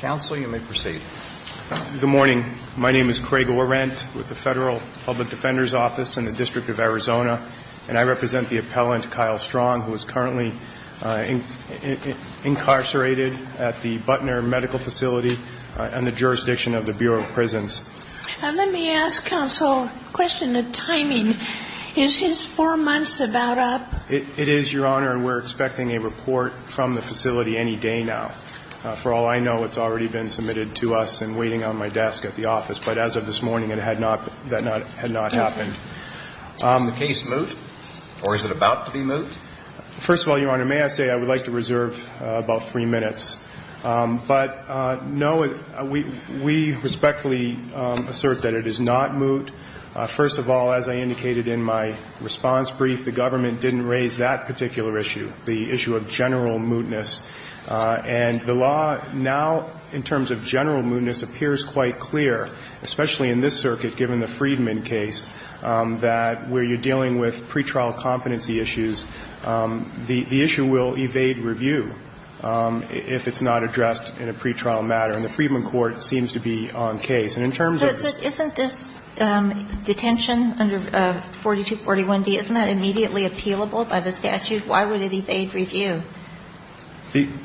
Good morning. My name is Craig Orent with the Federal Public Defender's Office in the District of Arizona, and I represent the appellant Kyle Strong, who is currently incarcerated at the Butner Medical Facility in the jurisdiction of the Bureau of Prisons. Let me ask, Counsel, a question of timing. Is his four months about up? It is, Your Honor, and we're expecting a report from the facility any day now. For all I know, it's already been submitted to us and waiting on my desk at the office. But as of this morning, that had not happened. Has the case moved, or is it about to be moved? First of all, Your Honor, may I say I would like to reserve about three minutes. But, no, we respectfully assert that it is not moot. First of all, as I indicated in my response brief, the government didn't raise that particular issue, the issue of general mootness. And the law now, in terms of general mootness, appears quite clear, especially in this circuit, given the Freedman case, that where you're dealing with pretrial competency issues, the issue will evade review if it's not addressed in a pretrial matter. And the Freedman court seems to be on case. And in terms of the ---- But isn't this detention under 4241d, isn't that immediately appealable by the statute? Why would it evade review?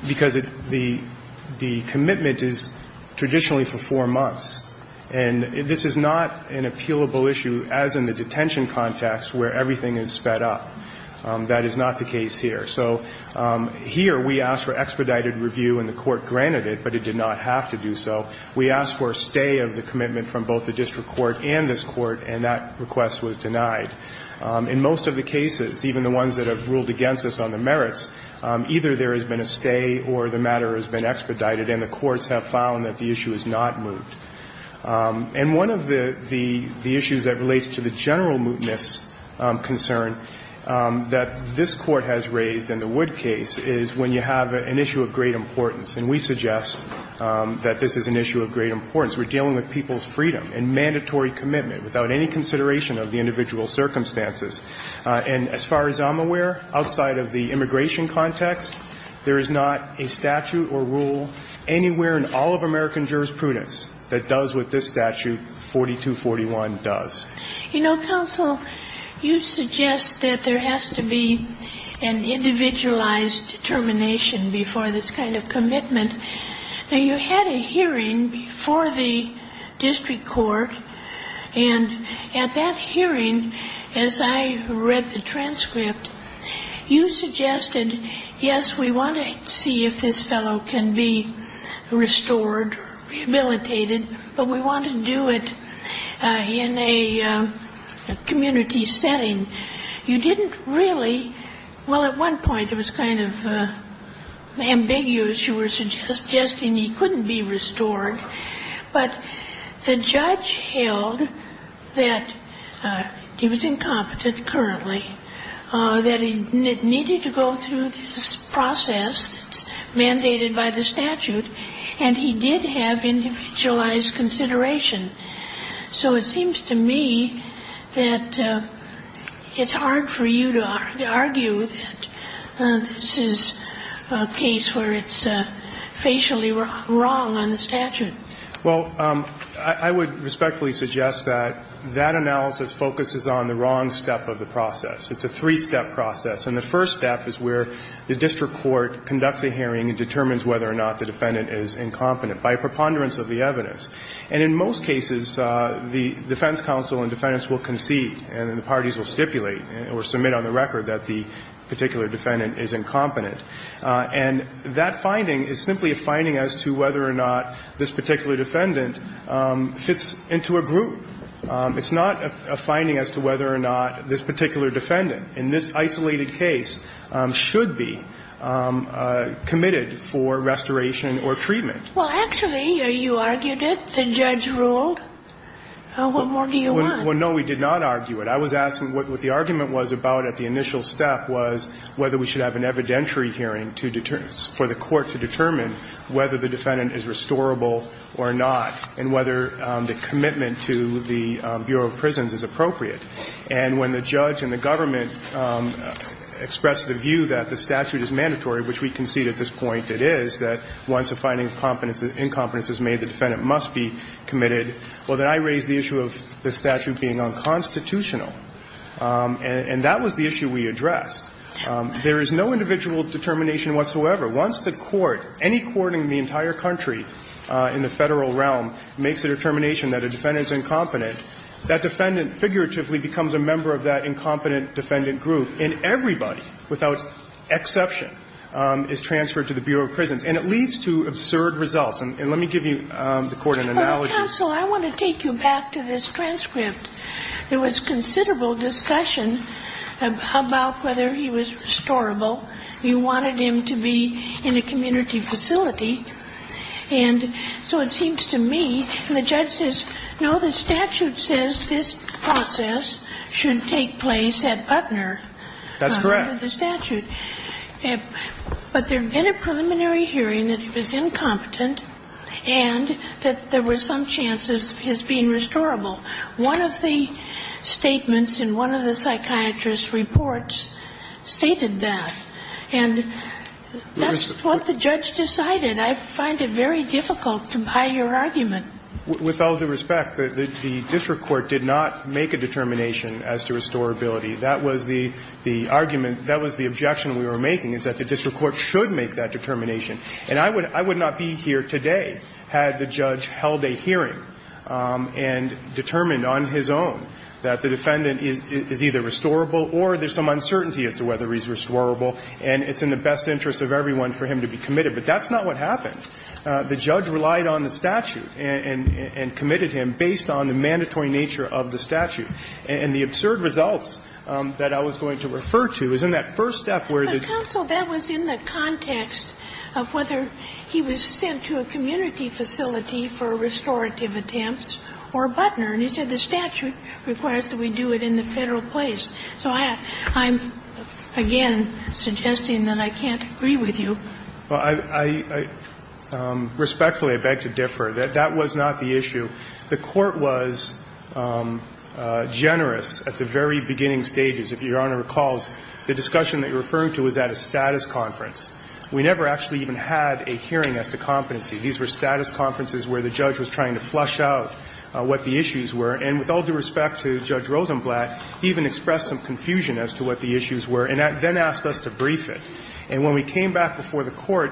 Because the commitment is traditionally for four months. And this is not an appealable issue, as in the detention context, where everything is sped up. That is not the case here. So here we asked for expedited review, and the court granted it, but it did not have to do so. We asked for a stay of the commitment from both the district court and this court, and that request was denied. In most of the cases, even the ones that have ruled against us on the merits, either there has been a stay or the matter has been expedited, and the courts have found that the issue is not moot. And one of the issues that relates to the general mootness concern that this Court has raised in the Wood case is when you have an issue of great importance. And we suggest that this is an issue of great importance. We're dealing with people's commitment without any consideration of the individual circumstances. And as far as I'm aware, outside of the immigration context, there is not a statute or rule anywhere in all of American jurisprudence that does what this statute 4241 does. You know, counsel, you suggest that there has to be an individualized determination before this kind of commitment. Now, you had a hearing before the district court and at that hearing, as I read the transcript, you suggested, yes, we want to see if this fellow can be restored, rehabilitated, but we want to do it in a community setting. You didn't really – well, at one point it was kind of ambiguous. You were suggesting he couldn't be restored, but the judge held that he was incompetent currently, that he needed to go through this process mandated by the statute, and he did have individualized consideration. So it seems to me that it's hard for you to argue that this is a case where it's facially wrong on the statute. Well, I would respectfully suggest that that analysis focuses on the wrong step of the process. It's a three-step process. And the first step is where the district court conducts a hearing and determines whether or not the defendant is incompetent by preponderance of the evidence. And in most cases, the defense counsel and defendants will concede and the parties will stipulate or submit on the record that the particular defendant is incompetent. And that finding is simply a finding as to whether or not this particular defendant fits into a group. It's not a finding as to whether or not this particular defendant in this isolated case should be committed for restoration or treatment. Well, actually, you argued it. The judge ruled. What more do you want? Well, no, we did not argue it. I was asking what the argument was about at the initial step was whether we should have an evidentiary hearing to determine, for the court to determine whether the defendant is restorable or not, and whether the commitment to the Bureau of Prisons is appropriate. And when the judge and the government expressed the view that the statute is mandatory, which we concede at this point it is, that once a finding of incompetence is made, the defendant must be committed, well, then I raise the issue of the statute being unconstitutional. And that was the issue we addressed. There is no individual determination whatsoever. Once the court, any court in the entire country in the Federal realm, makes a determination that a defendant is incompetent, that defendant figuratively becomes a member of that incompetent defendant group, and everybody, without exception, is transferred to the Bureau of Prisons. And it leads to absurd results. And let me give you, the Court, an analogy. Counsel, I want to take you back to this transcript. There was considerable discussion about whether he was restorable. You wanted him to be in a community facility. And so it seems to me, and the judge says, no, the statute says this process should take place at Putner. That's correct. But there had been a preliminary hearing that he was incompetent and that there was some chance of his being restorable. One of the statements in one of the psychiatrist's reports stated that. And that's what the judge decided. I find it very difficult to buy your argument. With all due respect, the district court did not make a determination as to restorability. That was the argument, that was the objection we were making, is that the district court should make that determination. And I would not be here today had the judge held a hearing and determined on his own that the defendant is either restorable or there's some uncertainty as to whether he's restorable, and it's in the best interest of everyone for him to be committed. But that's not what happened. The judge relied on the statute and committed him based on the mandatory nature of the statute. And the absurd results that I was going to refer to is in that first step where the judge. But, counsel, that was in the context of whether he was sent to a community facility for restorative attempts or Putner. And he said the statute requires that we do it in the Federal place. So I'm, again, suggesting that I can't agree with you. I respectfully beg to differ. That was not the issue. The court was generous at the very beginning stages, if Your Honor recalls. The discussion that you're referring to was at a status conference. We never actually even had a hearing as to competency. These were status conferences where the judge was trying to flush out what the issues were. And with all due respect to Judge Rosenblatt, he even expressed some confusion as to what the issues were and then asked us to brief it. And when we came back before the court,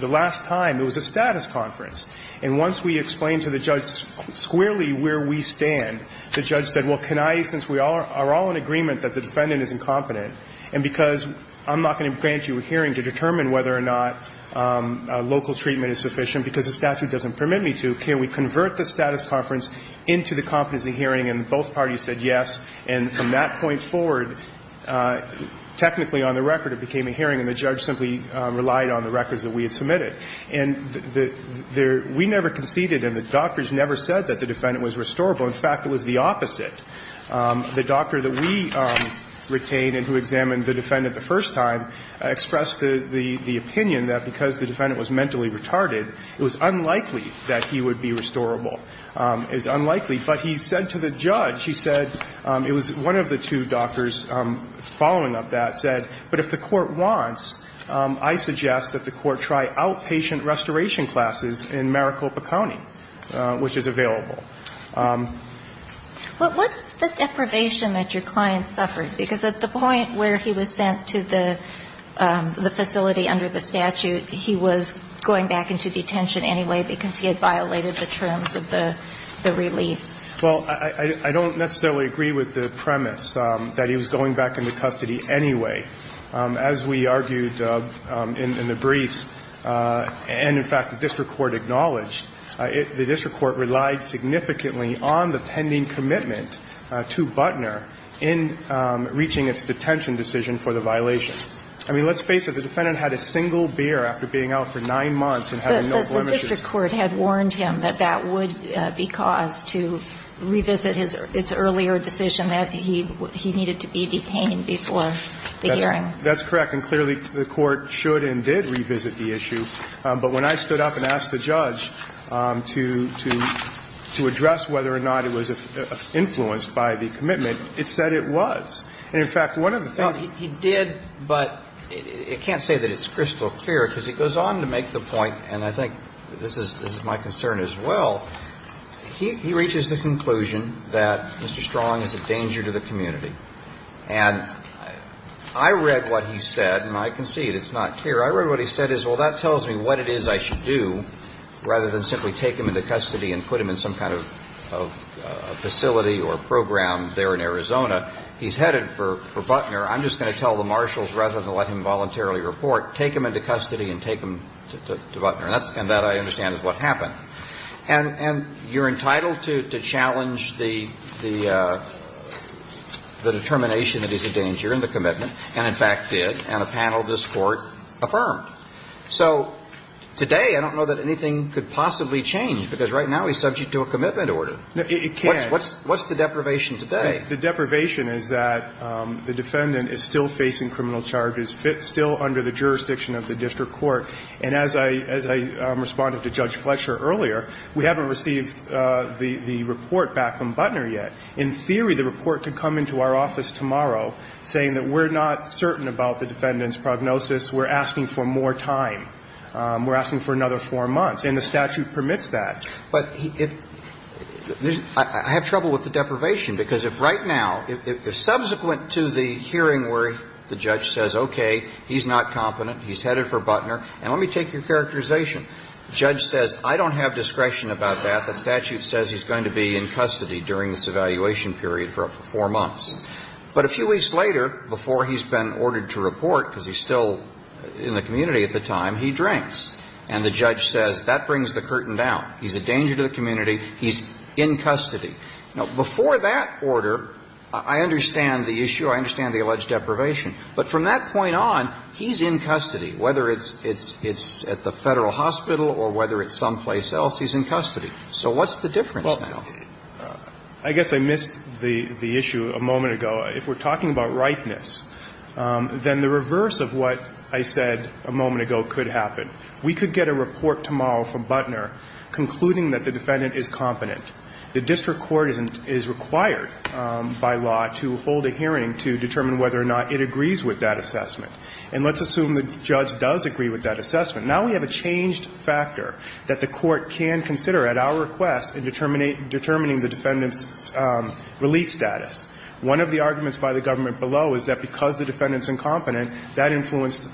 the last time, it was a status conference. And once we explained to the judge squarely where we stand, the judge said, well, can I, since we are all in agreement that the defendant is incompetent, and because I'm not going to grant you a hearing to determine whether or not local treatment is sufficient because the statute doesn't permit me to, can we convert the status conference into the competency hearing? And both parties said yes. And from that point forward, technically on the record, it became a hearing, and the judge said, we never conceded, and the doctors never said that the defendant was restorable. In fact, it was the opposite. The doctor that we retained and who examined the defendant the first time expressed the opinion that because the defendant was mentally retarded, it was unlikely that he would be restorable. It was unlikely. But he said to the judge, he said, it was one of the two doctors following up that, and the judge said, but if the court wants, I suggest that the court try outpatient restoration classes in Maricopa County, which is available. But what's the deprivation that your client suffered? Because at the point where he was sent to the facility under the statute, he was going back into detention anyway because he had violated the terms of the release. Well, I don't necessarily agree with the premise that he was going back into custody anyway. As we argued in the briefs, and in fact, the district court acknowledged, the district court relied significantly on the pending commitment to Butner in reaching its detention decision for the violation. I mean, let's face it. The defendant had a single beer after being out for nine months and had no blemishes. The district court had warned him that that would be caused to revisit his earlier decision that he needed to be detained before the hearing. That's correct. And clearly, the court should and did revisit the issue. But when I stood up and asked the judge to address whether or not it was influenced by the commitment, it said it was. In fact, one of the things he did, but it can't say that it's crystal clear because he goes on to make the point, and I think this is my concern as well, he reaches the conclusion that Mr. Strong is a danger to the community. And I read what he said, and I concede it's not here. I read what he said is, well, that tells me what it is I should do rather than simply take him into custody and put him in some kind of facility or program there in Arizona. He's headed for Butner. I'm just going to tell the marshals, rather than let him voluntarily report, take him into custody and take him to Butner. And that, I understand, is what happened. And you're entitled to challenge the determination that he's a danger in the commitment, and in fact did, and a panel of this Court affirmed. So today I don't know that anything could possibly change because right now he's subject to a commitment order. No, it can't. What's the deprivation today? The deprivation is that the defendant is still facing criminal charges, still under the jurisdiction of the district court. And as I responded to Judge Fletcher earlier, we haven't received the report back from Butner yet. In theory, the report could come into our office tomorrow saying that we're not certain about the defendant's prognosis. We're asking for more time. We're asking for another four months. And the statute permits that. But I have trouble with the deprivation, because if right now, if subsequent to the hearing where the judge says, okay, he's not competent, he's headed for Butner, and let me take your characterization. The judge says, I don't have discretion about that. The statute says he's going to be in custody during this evaluation period for up to four months. But a few weeks later, before he's been ordered to report, because he's still in the community at the time, he drinks. And the judge says, that brings the curtain down. He's a danger to the community. He's in custody. Now, before that order, I understand the issue. I understand the alleged deprivation. But from that point on, he's in custody, whether it's at the Federal Hospital or whether it's someplace else, he's in custody. So what's the difference now? Well, I guess I missed the issue a moment ago. If we're talking about ripeness, then the reverse of what I said a moment ago could happen. We could get a report tomorrow from Butner concluding that the defendant is competent. The district court is required by law to hold a hearing to determine whether or not it agrees with that assessment. And let's assume the judge does agree with that assessment. Now we have a changed factor that the court can consider at our request in determining the defendant's release status. One of the arguments by the government below is that because the defendant's incompetent, that influenced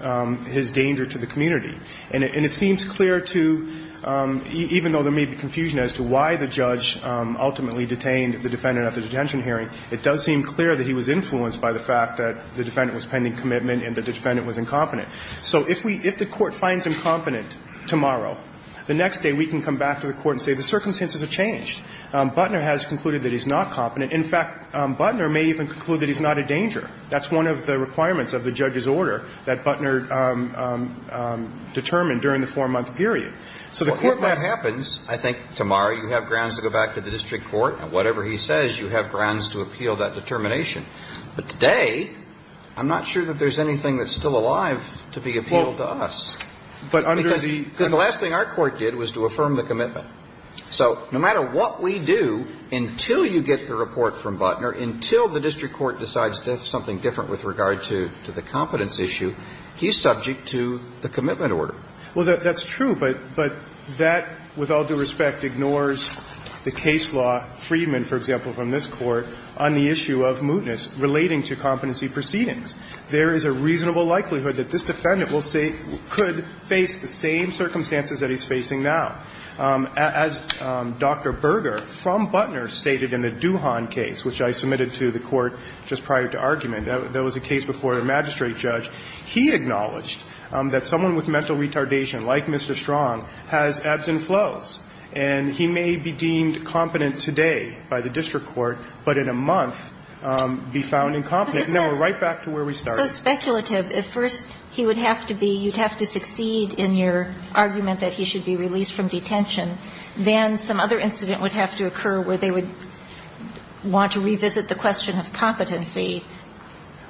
his danger to the community. And it seems clear to, even though there may be confusion as to why the judge ultimately detained the defendant at the detention hearing, it does seem clear that he was influenced by the fact that the defendant was pending commitment and the defendant was incompetent. So if we – if the court finds him competent tomorrow, the next day we can come back to the court and say the circumstances have changed. Butner has concluded that he's not competent. In fact, Butner may even conclude that he's not a danger. That's one of the requirements of the judge's order that Butner determined during the four-month period. So the court must – Well, if that happens, I think tomorrow you have grounds to go back to the district court, and whatever he says, you have grounds to appeal that determination. But today, I'm not sure that there's anything that's still alive to be appealed to us. But under the – Because the last thing our court did was to affirm the commitment. So no matter what we do, until you get the report from Butner, until the district court decides to have something different with regard to the competence issue, he's subject to the commitment order. Well, that's true. But that, with all due respect, ignores the case law, Friedman, for example, from this Court, on the issue of mootness relating to competency proceedings. There is a reasonable likelihood that this defendant will say – could face the same circumstances that he's facing now. As Dr. Berger from Butner stated in the Duhan case, which I submitted to the Court just prior to argument, that was a case before a magistrate judge. He acknowledged that someone with mental retardation, like Mr. Strong, has ebbs and flows. And he may be deemed competent today by the district court, but in a month be found incompetent. And now we're right back to where we started. But this is so speculative. At first, he would have to be – you'd have to succeed in your argument that he should be released from detention. Then some other incident would have to occur where they would want to revisit the question of competency.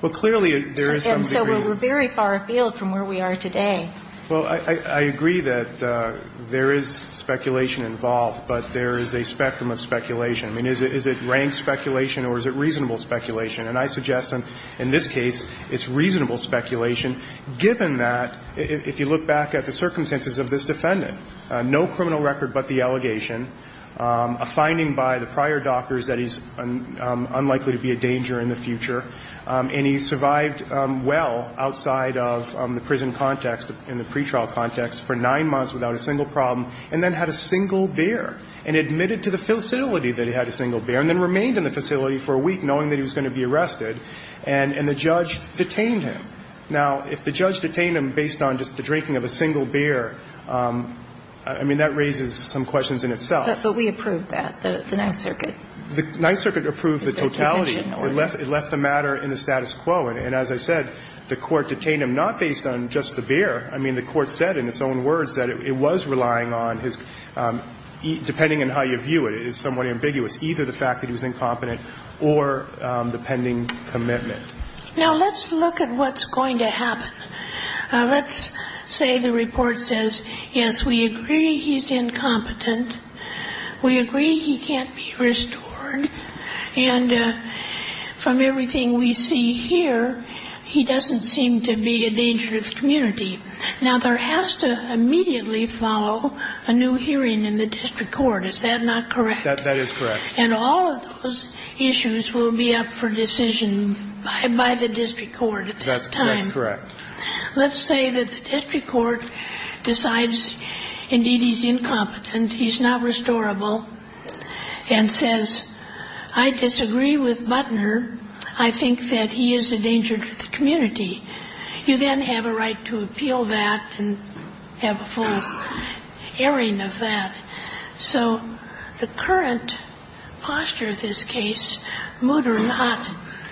Well, clearly, there is some degree. And so we're very far afield from where we are today. Well, I agree that there is speculation involved, but there is a spectrum of speculation. I mean, is it rank speculation or is it reasonable speculation? And I suggest in this case it's reasonable speculation, given that, if you look back at the circumstances of this defendant, no criminal record but the allegation, a finding by the prior doctors that he's unlikely to be a danger in the future, and he survived well outside of the prison context, in the pretrial context, for nine months without a single problem, and then had a single beer, and admitted to the facility that he had a single beer, and then remained in the facility for a week, knowing that he was going to be arrested, and the judge detained him. Now, if the judge detained him based on just the drinking of a single beer, I mean, that raises some questions in itself. But we approved that, the Ninth Circuit. The Ninth Circuit approved the totality. It left the matter in the status quo. And as I said, the Court detained him not based on just the beer. I mean, the Court said in its own words that it was relying on his, depending on how you view it, it is somewhat ambiguous, either the fact that he was incompetent or the pending commitment. Now, let's look at what's going to happen. Let's say the report says, yes, we agree he's incompetent. We agree he can't be restored. And from everything we see here, he doesn't seem to be a dangerous community. Now, there has to immediately follow a new hearing in the district court. Is that not correct? That is correct. And all of those issues will be up for decision by the district court at that time. That's correct. Let's say that the district court decides, indeed, he's incompetent, he's not restorable, and says, I disagree with Butner. I think that he is a danger to the community. You then have a right to appeal that and have a full hearing of that. So the current posture of this case, moot or not,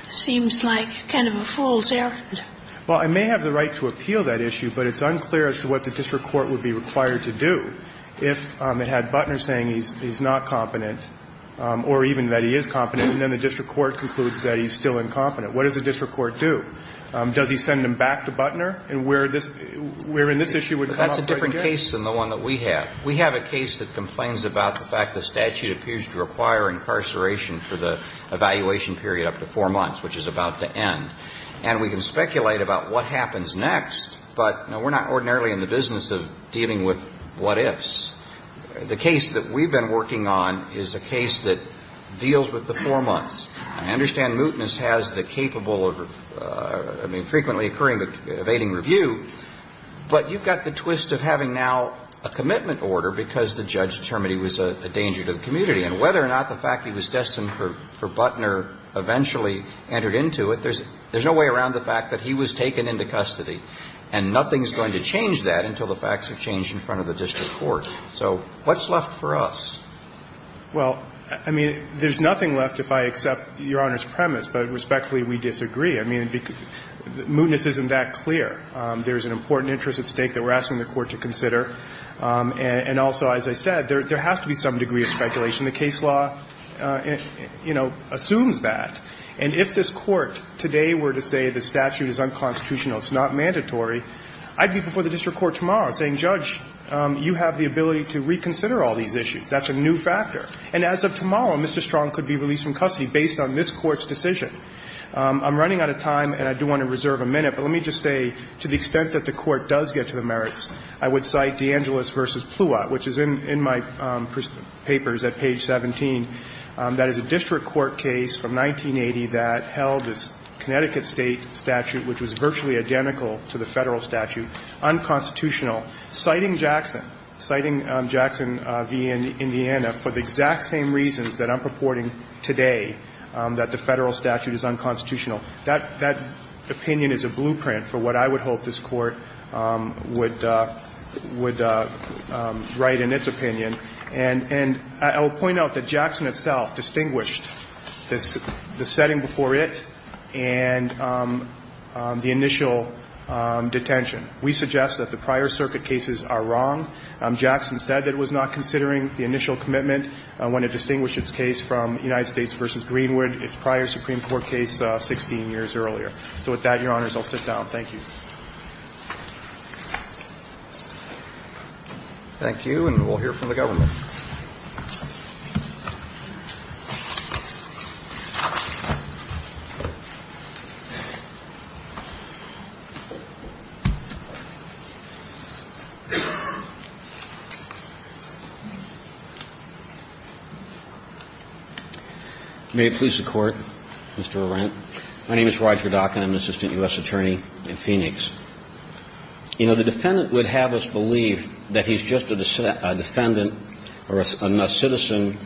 seems like kind of a fool's errand. Well, I may have the right to appeal that issue, but it's unclear as to what the district court would be required to do if it had Butner saying he's not competent or even that he is competent, and then the district court concludes that he's still incompetent. What does the district court do? Does he send him back to Butner where this issue would come up right there? That's a different case than the one that we have. We have a case that complains about the fact the statute appears to require incarceration for the evaluation period up to four months, which is about to end. And we can speculate about what happens next, but, no, we're not ordinarily in the business of dealing with what-ifs. The case that we've been working on is a case that deals with the four months. I understand mootness has the capable of, I mean, frequently occurring but evading review, but you've got the twist of having now a commitment order because the judge determined he was a danger to the community. And whether or not the fact he was destined for Butner eventually entered into it, there's no way around the fact that he was taken into custody. And nothing's going to change that until the facts are changed in front of the district court. So what's left for us? Well, I mean, there's nothing left if I accept Your Honor's premise, but respectfully, we disagree. I mean, mootness isn't that clear. There's an important interest at stake that we're asking the Court to consider. And also, as I said, there has to be some degree of speculation. The case law, you know, assumes that. And if this Court today were to say the statute is unconstitutional, it's not mandatory, I'd be before the district court tomorrow saying, Judge, you have the ability to reconsider all these issues. That's a new factor. And as of tomorrow, Mr. Strong could be released from custody based on this Court's decision. I'm running out of time, and I do want to reserve a minute. But let me just say, to the extent that the Court does get to the merits, I would cite DeAngelis v. Pluot, which is in my papers at page 17. That is a district court case from 1980 that held this Connecticut State statute, which was virtually identical to the Federal statute, unconstitutional, citing Jackson, citing Jackson v. Indiana, for the exact same reasons that I'm purporting to today, that the Federal statute is unconstitutional. That opinion is a blueprint for what I would hope this Court would write in its opinion. And I will point out that Jackson itself distinguished the setting before it and the initial detention. We suggest that the prior circuit cases are wrong. Jackson said that it was not considering the initial commitment when it distinguished its case from United States v. Greenwood, its prior Supreme Court case 16 years earlier. So with that, Your Honors, I'll sit down. Thank you. Thank you, and we'll hear from the government. May it please the Court, Mr. Arendt. My name is Roger Dockin. I'm an assistant U.S. attorney in Phoenix. You know, the defendant would have us believe that he's just a defendant or a citizen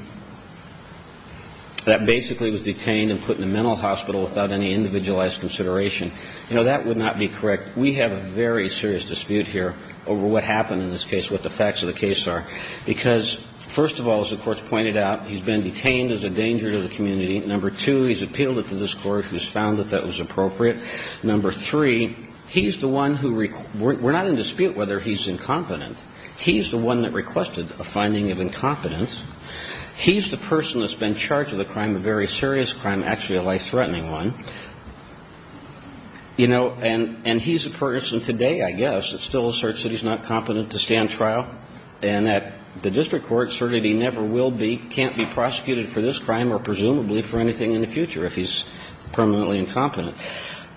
that basically was detained and put in a mental hospital without any individualized consideration. You know, that would not be correct. We have a very serious dispute here over what happened in this case, what the facts of the case are, because, first of all, as the Court's pointed out, he's been detained as a danger to the community. Number two, he's appealed it to this Court, who's found that that was appropriate. Number three, he's the one who we're not in dispute whether he's incompetent. He's the one that requested a finding of incompetence. He's the person that's been charged with a crime, a very serious crime, actually a life-threatening one. You know, and he's the person today, I guess, that still asserts that he's not competent to stand trial and that the district court asserted he never will be, can't be prosecuted for this crime or presumably for anything in the future if he's permanently incompetent.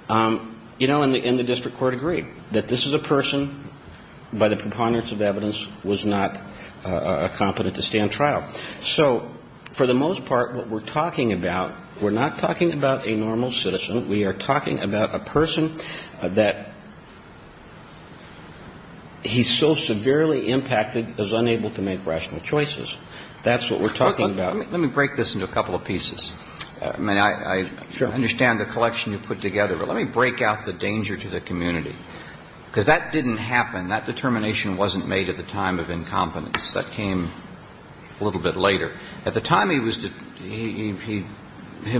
You know, and the district court agreed that this is a person by the preponderance of evidence was not competent to stand trial. So for the most part, what we're talking about, we're not talking about a normal citizen. We are talking about a person that he's so severely impacted is unable to make rational choices. That's what we're talking about. Let me break this into a couple of pieces. I mean, I understand the collection you've put together, but let me break out the danger to the community. Because that didn't happen. That determination wasn't made at the time of incompetence. That came a little bit later. At the time, he was,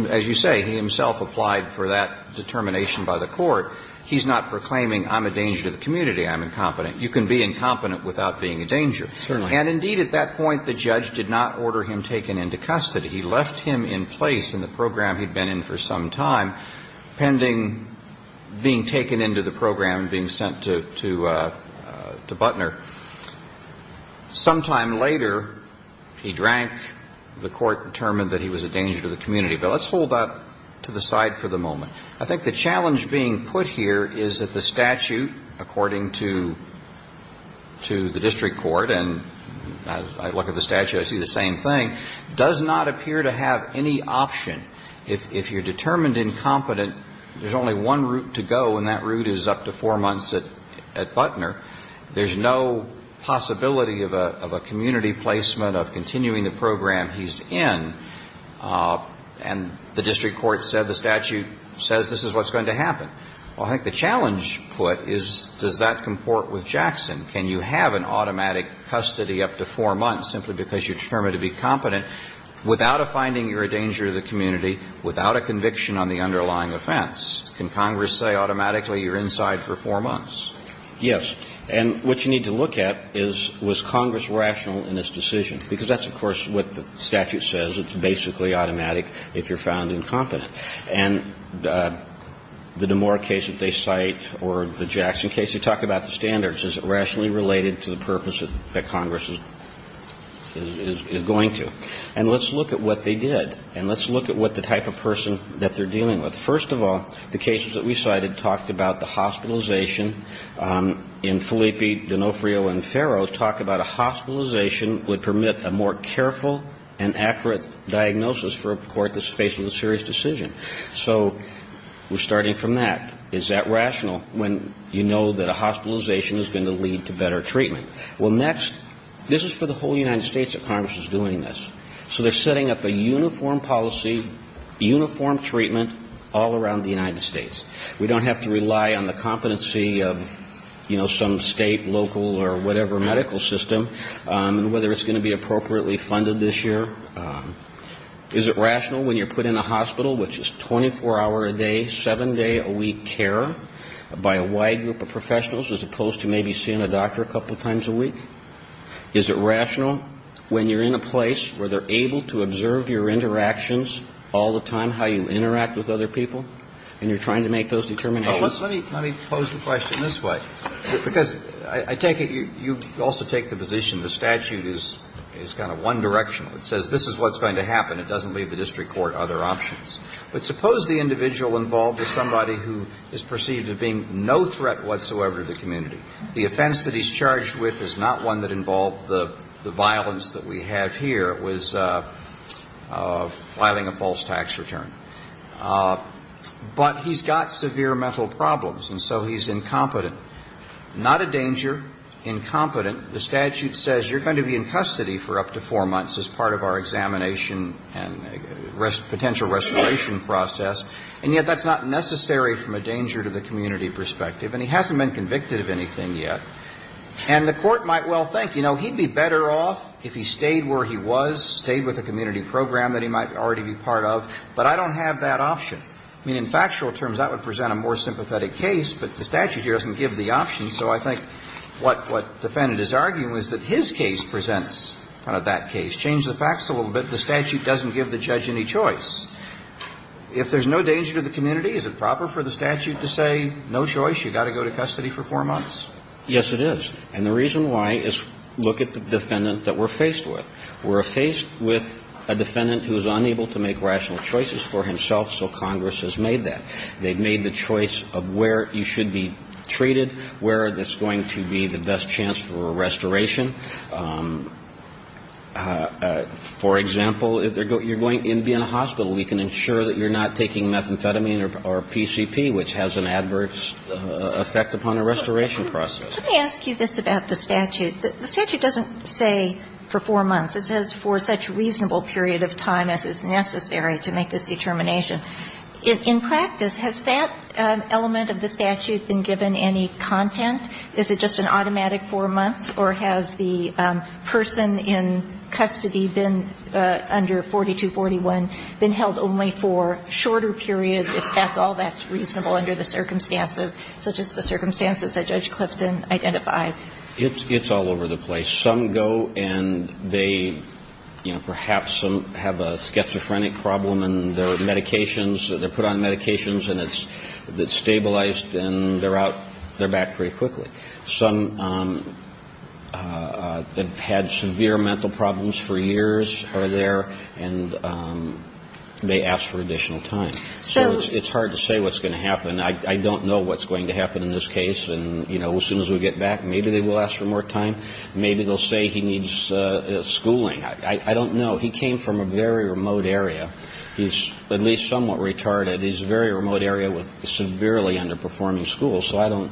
as you say, he himself applied for that determination by the court. He's not proclaiming, I'm a danger to the community, I'm incompetent. You can be incompetent without being a danger. And indeed, at that point, the judge did not order him taken into custody. He left him in place in the program he'd been in for some time, pending being taken into the program and being sent to Butner. Sometime later, he drank. The court determined that he was a danger to the community. But let's hold that to the side for the moment. I think the challenge being put here is that the statute, according to the district court, and I look at the statute, I see the same thing, does not appear to have any option. If you're determined incompetent, there's only one route to go, and that route is up to four months at Butner. There's no possibility of a community placement, of continuing the program he's in. And the district court said the statute says this is what's going to happen. Well, I think the challenge put is, does that comport with Jackson? Can you have an automatic custody up to four months simply because you're determined to be competent without a finding you're a danger to the community, without a conviction on the underlying offense? Can Congress say automatically you're inside for four months? Yes. And what you need to look at is, was Congress rational in this decision? Because that's, of course, what the statute says. It's basically automatic if you're found incompetent. And the DeMora case that they cite or the Jackson case, you talk about the standards. Is it rationally related to the purpose that Congress is going to? And let's look at what they did. And let's look at what the type of person that they're dealing with. First of all, the cases that we cited talked about the hospitalization in Filippi, D'Onofrio, and Farrow talk about a hospitalization would permit a more careful and accurate diagnosis for a court that's facing a serious decision. So we're starting from that. Is that rational when you know that a hospitalization is going to lead to better treatment? Well, next, this is for the whole United States that Congress is doing this. So they're setting up a uniform policy, uniform treatment all around the United States. We don't have to rely on the competency of, you know, some state, local, or whatever medical system. So we're going to have to look at what the health care system is going to be. We're going to have to look at what the health care system is going to be and whether it's going to be appropriately funded this year. Is it rational when you're put in a hospital which is 24-hour a day, seven-day-a-week care by a wide group of professionals as opposed to maybe seeing a doctor a couple times a week? Is it rational when you're in a place where they're able to observe your interactions all the time, how you interact with other people, and you're trying to make those determinations? Let me pose the question this way, because I take it you also take the position the statute is kind of one-directional. It says this is what's going to happen. It doesn't leave the district court other options. But suppose the individual involved is somebody who is perceived as being no threat whatsoever to the community. The offense that he's charged with is not one that involved the violence that we have here. It was filing a false tax return. But he's got severe mental problems, and so he's incompetent. Not a danger, incompetent. The statute says you're going to be in custody for up to four months as part of our examination and potential restoration process, and yet that's not necessary from a danger to the community perspective. And he hasn't been convicted of anything yet. And the court might well think, you know, he'd be better off if he stayed where he was, stayed with a community program that he might already be part of. But I don't have that option. I mean, in factual terms, that would present a more sympathetic case, but the statute here doesn't give the option. So I think what defendant is arguing is that his case presents kind of that case. Change the facts a little bit. The statute doesn't give the judge any choice. If there's no danger to the community, is it proper for the statute to say no choice, you've got to go to custody for four months? Yes, it is. And the reason why is look at the defendant that we're faced with. We're faced with a defendant who's unable to make rational choices for himself, so Congress has made that. They've made the choice of where you should be treated, where there's going to be the best chance for a restoration. For example, you're going to be in a hospital. We can ensure that you're not taking methamphetamine or PCP, which has an adverse effect upon the restoration process. Let me ask you this about the statute. The statute doesn't say for four months. It says for such reasonable period of time as is necessary to make this determination. In practice, has that element of the statute been given any content? Is it just an automatic four months, or has the person in custody been under 4241 been held only for shorter periods, if that's all that's reasonable under the circumstances, such as the circumstances that Judge Clifton identified? It's all over the place. Some go and they, you know, perhaps some have a schizophrenic problem and their medications, they're put on medications and it's stabilized and they're out, they're back pretty quickly. Some have had severe mental problems for years, are there, and they ask for additional time. So it's hard to say what's going to happen. I don't know what's going to happen in this case. And, you know, as soon as we get back, maybe they will ask for more time. Maybe they'll say he needs schooling. I don't know. He came from a very remote area. He's at least somewhat retarded. He's a very remote area with severely underperforming schools. So I don't,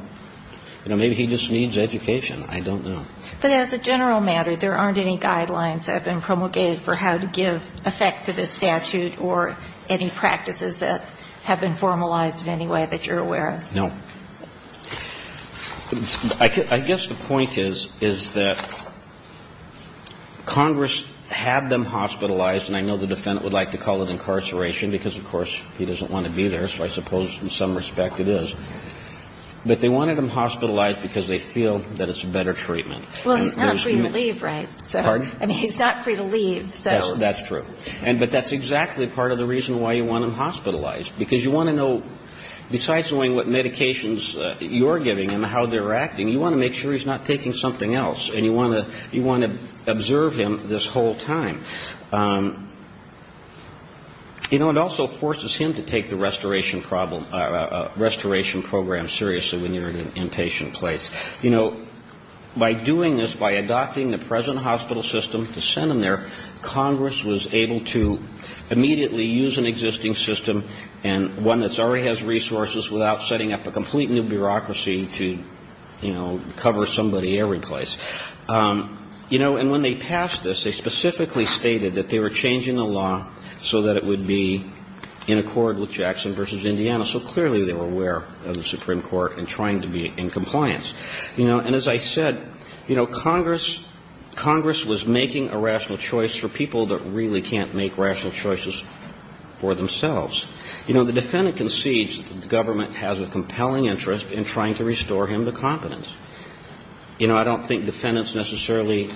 you know, maybe he just needs education. I don't know. But as a general matter, there aren't any guidelines that have been promulgated for how to give effect to this statute or any practices that have been formalized in any way that you're aware of. No. I guess the point is that Congress had them hospitalized, and I know the defendant would like to call it incarceration because, of course, he doesn't want to be there, so I suppose in some respect it is. But they wanted them hospitalized because they feel that it's a better treatment. Well, he's not free to leave, right? Pardon? I mean, he's not free to leave, so. That's true. But that's exactly part of the reason why you want them hospitalized, because you want to know besides knowing what medications you're giving him, how they're acting, you want to make sure he's not taking something else, and you want to observe him this whole time. You know, it also forces him to take the restoration program seriously when you're in an inpatient place. You know, by doing this, by adopting the present hospital system to send him there, Congress was able to immediately use an existing system and one that already has resources without setting up a complete new bureaucracy to, you know, cover somebody every place. You know, and when they passed this, they specifically stated that they were changing the law so that it would be in accord with Jackson v. Indiana. So clearly they were aware of the Supreme Court and trying to be in compliance. You know, and as I said, you know, Congress was making a rational choice for people that really can't make rational choices for themselves. You know, the defendant concedes that the government has a compelling interest in trying to restore him to competence. You know, I don't think defendants necessarily,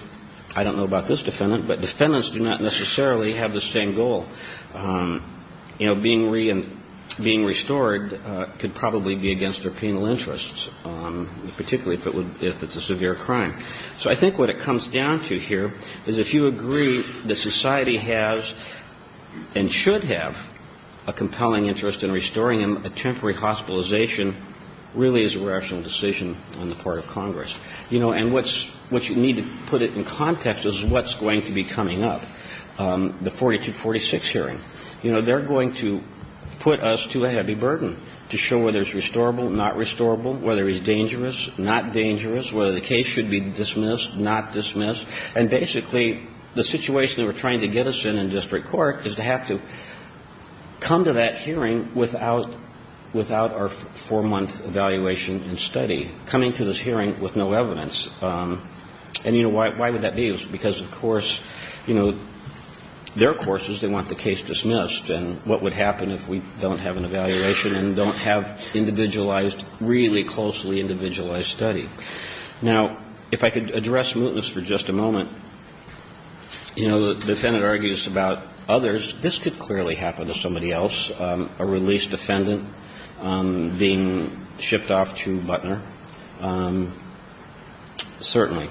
I don't know about this defendant, but defendants do not necessarily have the same goal. You know, being restored could probably be against their penal interests, particularly if it's a severe crime. So I think what it comes down to here is if you agree that society has and should have a compelling interest in restoring him, a temporary hospitalization really is a rational decision on the part of Congress. You know, and what you need to put it in context is what's going to be coming up. The 4246 hearing, you know, they're going to put us to a heavy burden to show whether it's restorable, not restorable, whether he's dangerous, not dangerous, whether the case should be dismissed, not dismissed. And basically the situation they were trying to get us in in district court is to have to come to that hearing without our four-month evaluation and study, coming to this hearing with no evidence. And, you know, why would that be? Because, of course, you know, their courses, they want the case dismissed. And what would happen if we don't have an evaluation and don't have individualized, really closely individualized study? Now, if I could address mootness for just a moment, you know, the defendant argues about others. This could clearly happen to somebody else, a released defendant being shipped off to Butner. Certainly.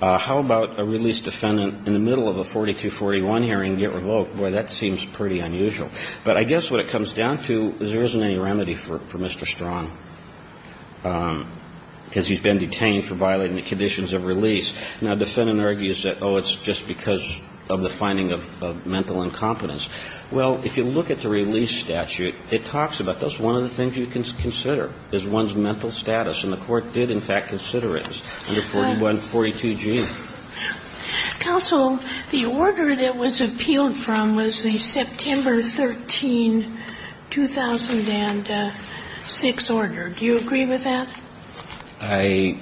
How about a released defendant in the middle of a 4241 hearing get revoked? Boy, that seems pretty unusual. But I guess what it comes down to is there isn't any remedy for Mr. Strong because he's been detained for violating the conditions of release. Now, the defendant argues that, oh, it's just because of the finding of mental incompetence. Well, if you look at the release statute, it talks about that's one of the things you can consider is one's mental status. And the Court did, in fact, consider it under 4142G. Counsel, the order that was appealed from was the September 13, 2006 order. Do you agree with that? I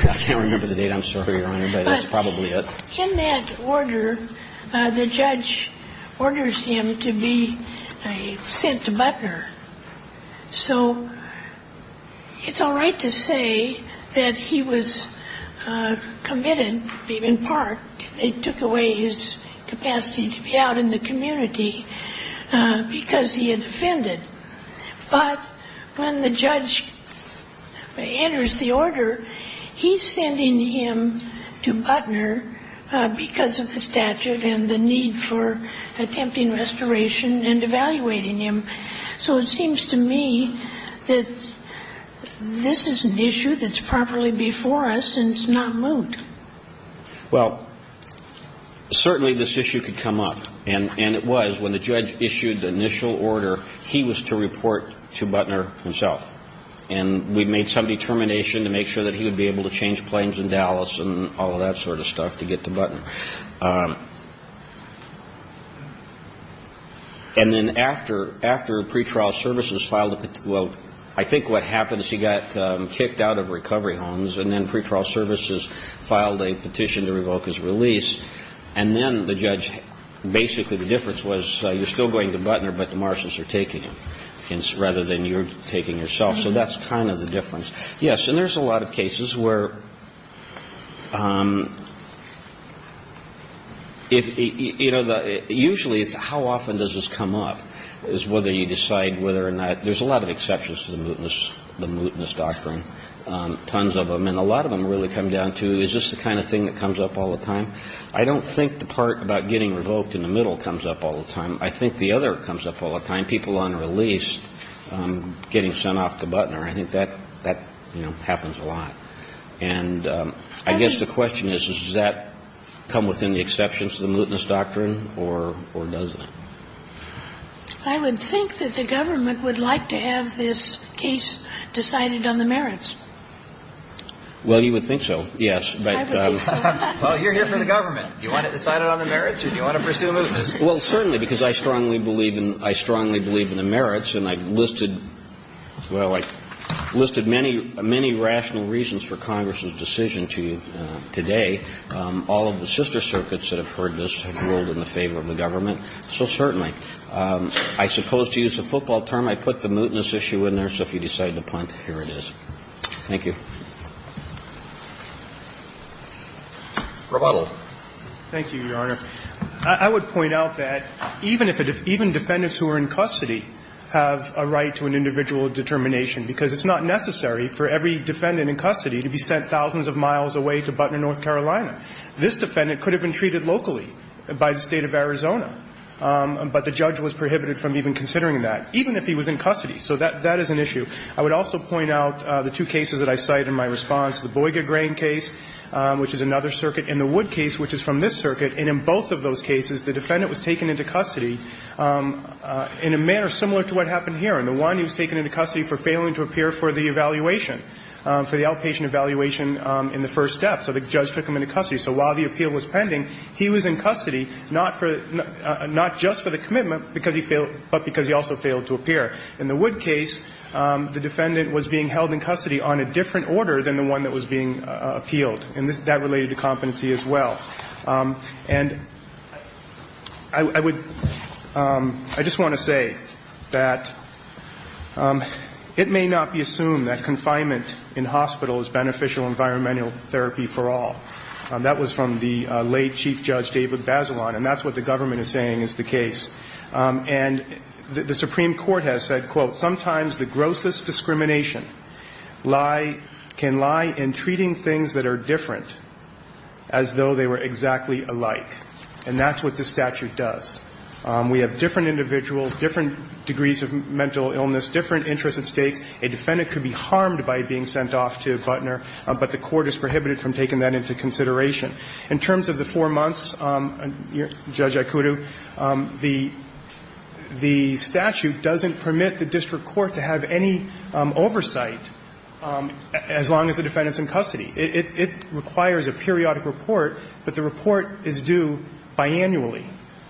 can't remember the date, I'm sorry, Your Honor, but that's probably it. But in that order, the judge orders him to be sent to Butner. So it's all right to say that he was committed, in part, they took away his capacity to be out in the community because he had offended. But when the judge enters the order, he's sending him to Butner because of the statute and the need for attempting restoration and evaluating him. So it seems to me that this is an issue that's properly before us and it's not moot. Well, certainly this issue could come up. And it was. When the judge issued the initial order, he was to report to Butner himself. And we made some determination to make sure that he would be able to change planes in Dallas and all of that sort of stuff to get to Butner. And then after pretrial services filed, well, I think what happened is he got kicked out of recovery homes and then pretrial services filed a petition to revoke his release. And then the judge, basically the difference was you're still going to Butner, but the marshals are taking him rather than you're taking yourself. So that's kind of the difference. Yes. And there's a lot of cases where. You know, usually it's how often does this come up is whether you decide whether or not there's a lot of exceptions to the mootness, the mootness doctrine. Tons of them and a lot of them really come down to is this the kind of thing that comes up all the time. I don't think the part about getting revoked in the middle comes up all the time. I think the other comes up all the time. People on release getting sent off to Butner. I think that that happens a lot. And I guess the question is, does that come within the exceptions to the mootness doctrine or does it? I would think that the government would like to have this case decided on the merits. Well, you would think so. Yes. Well, you're here for the government. You want it decided on the merits or do you want to pursue mootness? Well, certainly, because I strongly believe in the merits and I've listed, well, I've listed many, many rational reasons for Congress's decision today. All of the sister circuits that have heard this have ruled in the favor of the government. So certainly. I suppose to use a football term, I put the mootness issue in there. So if you decide to punt, here it is. Thank you. Roboto. Thank you, Your Honor. I would point out that even if the defendants who are in custody have a right to an individual determination, because it's not necessary for every defendant in custody to be sent thousands of miles away to Butner, North Carolina. This defendant could have been treated locally by the State of Arizona, but the judge was prohibited from even considering that, even if he was in custody. So that is an issue. I would also point out the two cases that I cite in my response, the Boiga Grain case, which is another circuit, and the Wood case, which is from this circuit. And in both of those cases, the defendant was taken into custody in a manner similar to what happened here. In the one, he was taken into custody for failing to appear for the evaluation, for the outpatient evaluation in the first step. So the judge took him into custody. So while the appeal was pending, he was in custody, not just for the commitment, but because he also failed to appear. In the Wood case, the defendant was being held in custody on a different order than the one that was being appealed. And that related to competency as well. And I would, I just want to say that it may not be assumed that confinement in hospital is beneficial environmental therapy for all. That was from the late Chief Judge David Bazelon, and that's what the government is saying is the case. And the Supreme Court has said, quote, Sometimes the grossest discrimination lie, can lie in treating things that are different as though they were exactly alike. And that's what the statute does. We have different individuals, different degrees of mental illness, different interests at stake. A defendant could be harmed by being sent off to Butner, but the court has prohibited from taking that into consideration. In terms of the four months, Judge Ikutu, the statute doesn't permit the district court to have any oversight as long as the defendant's in custody. It requires a periodic report, but the report is due biannually.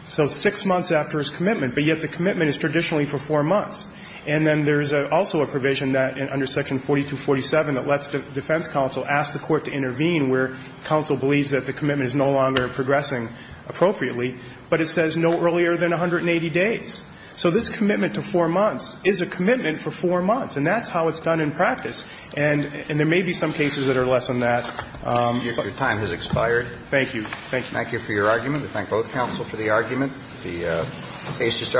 So six months after his commitment, but yet the commitment is traditionally for four months. And then there's also a provision that under section 4247 that lets the defense counsel ask the court to intervene where counsel believes that the commitment is no longer progressing appropriately, but it says no earlier than 180 days. So this commitment to four months is a commitment for four months, and that's how it's done in practice. And there may be some cases that are less than that. Your time has expired. Thank you. Thank you. Thank you for your argument. We thank both counsel for the argument. The case is adjourned.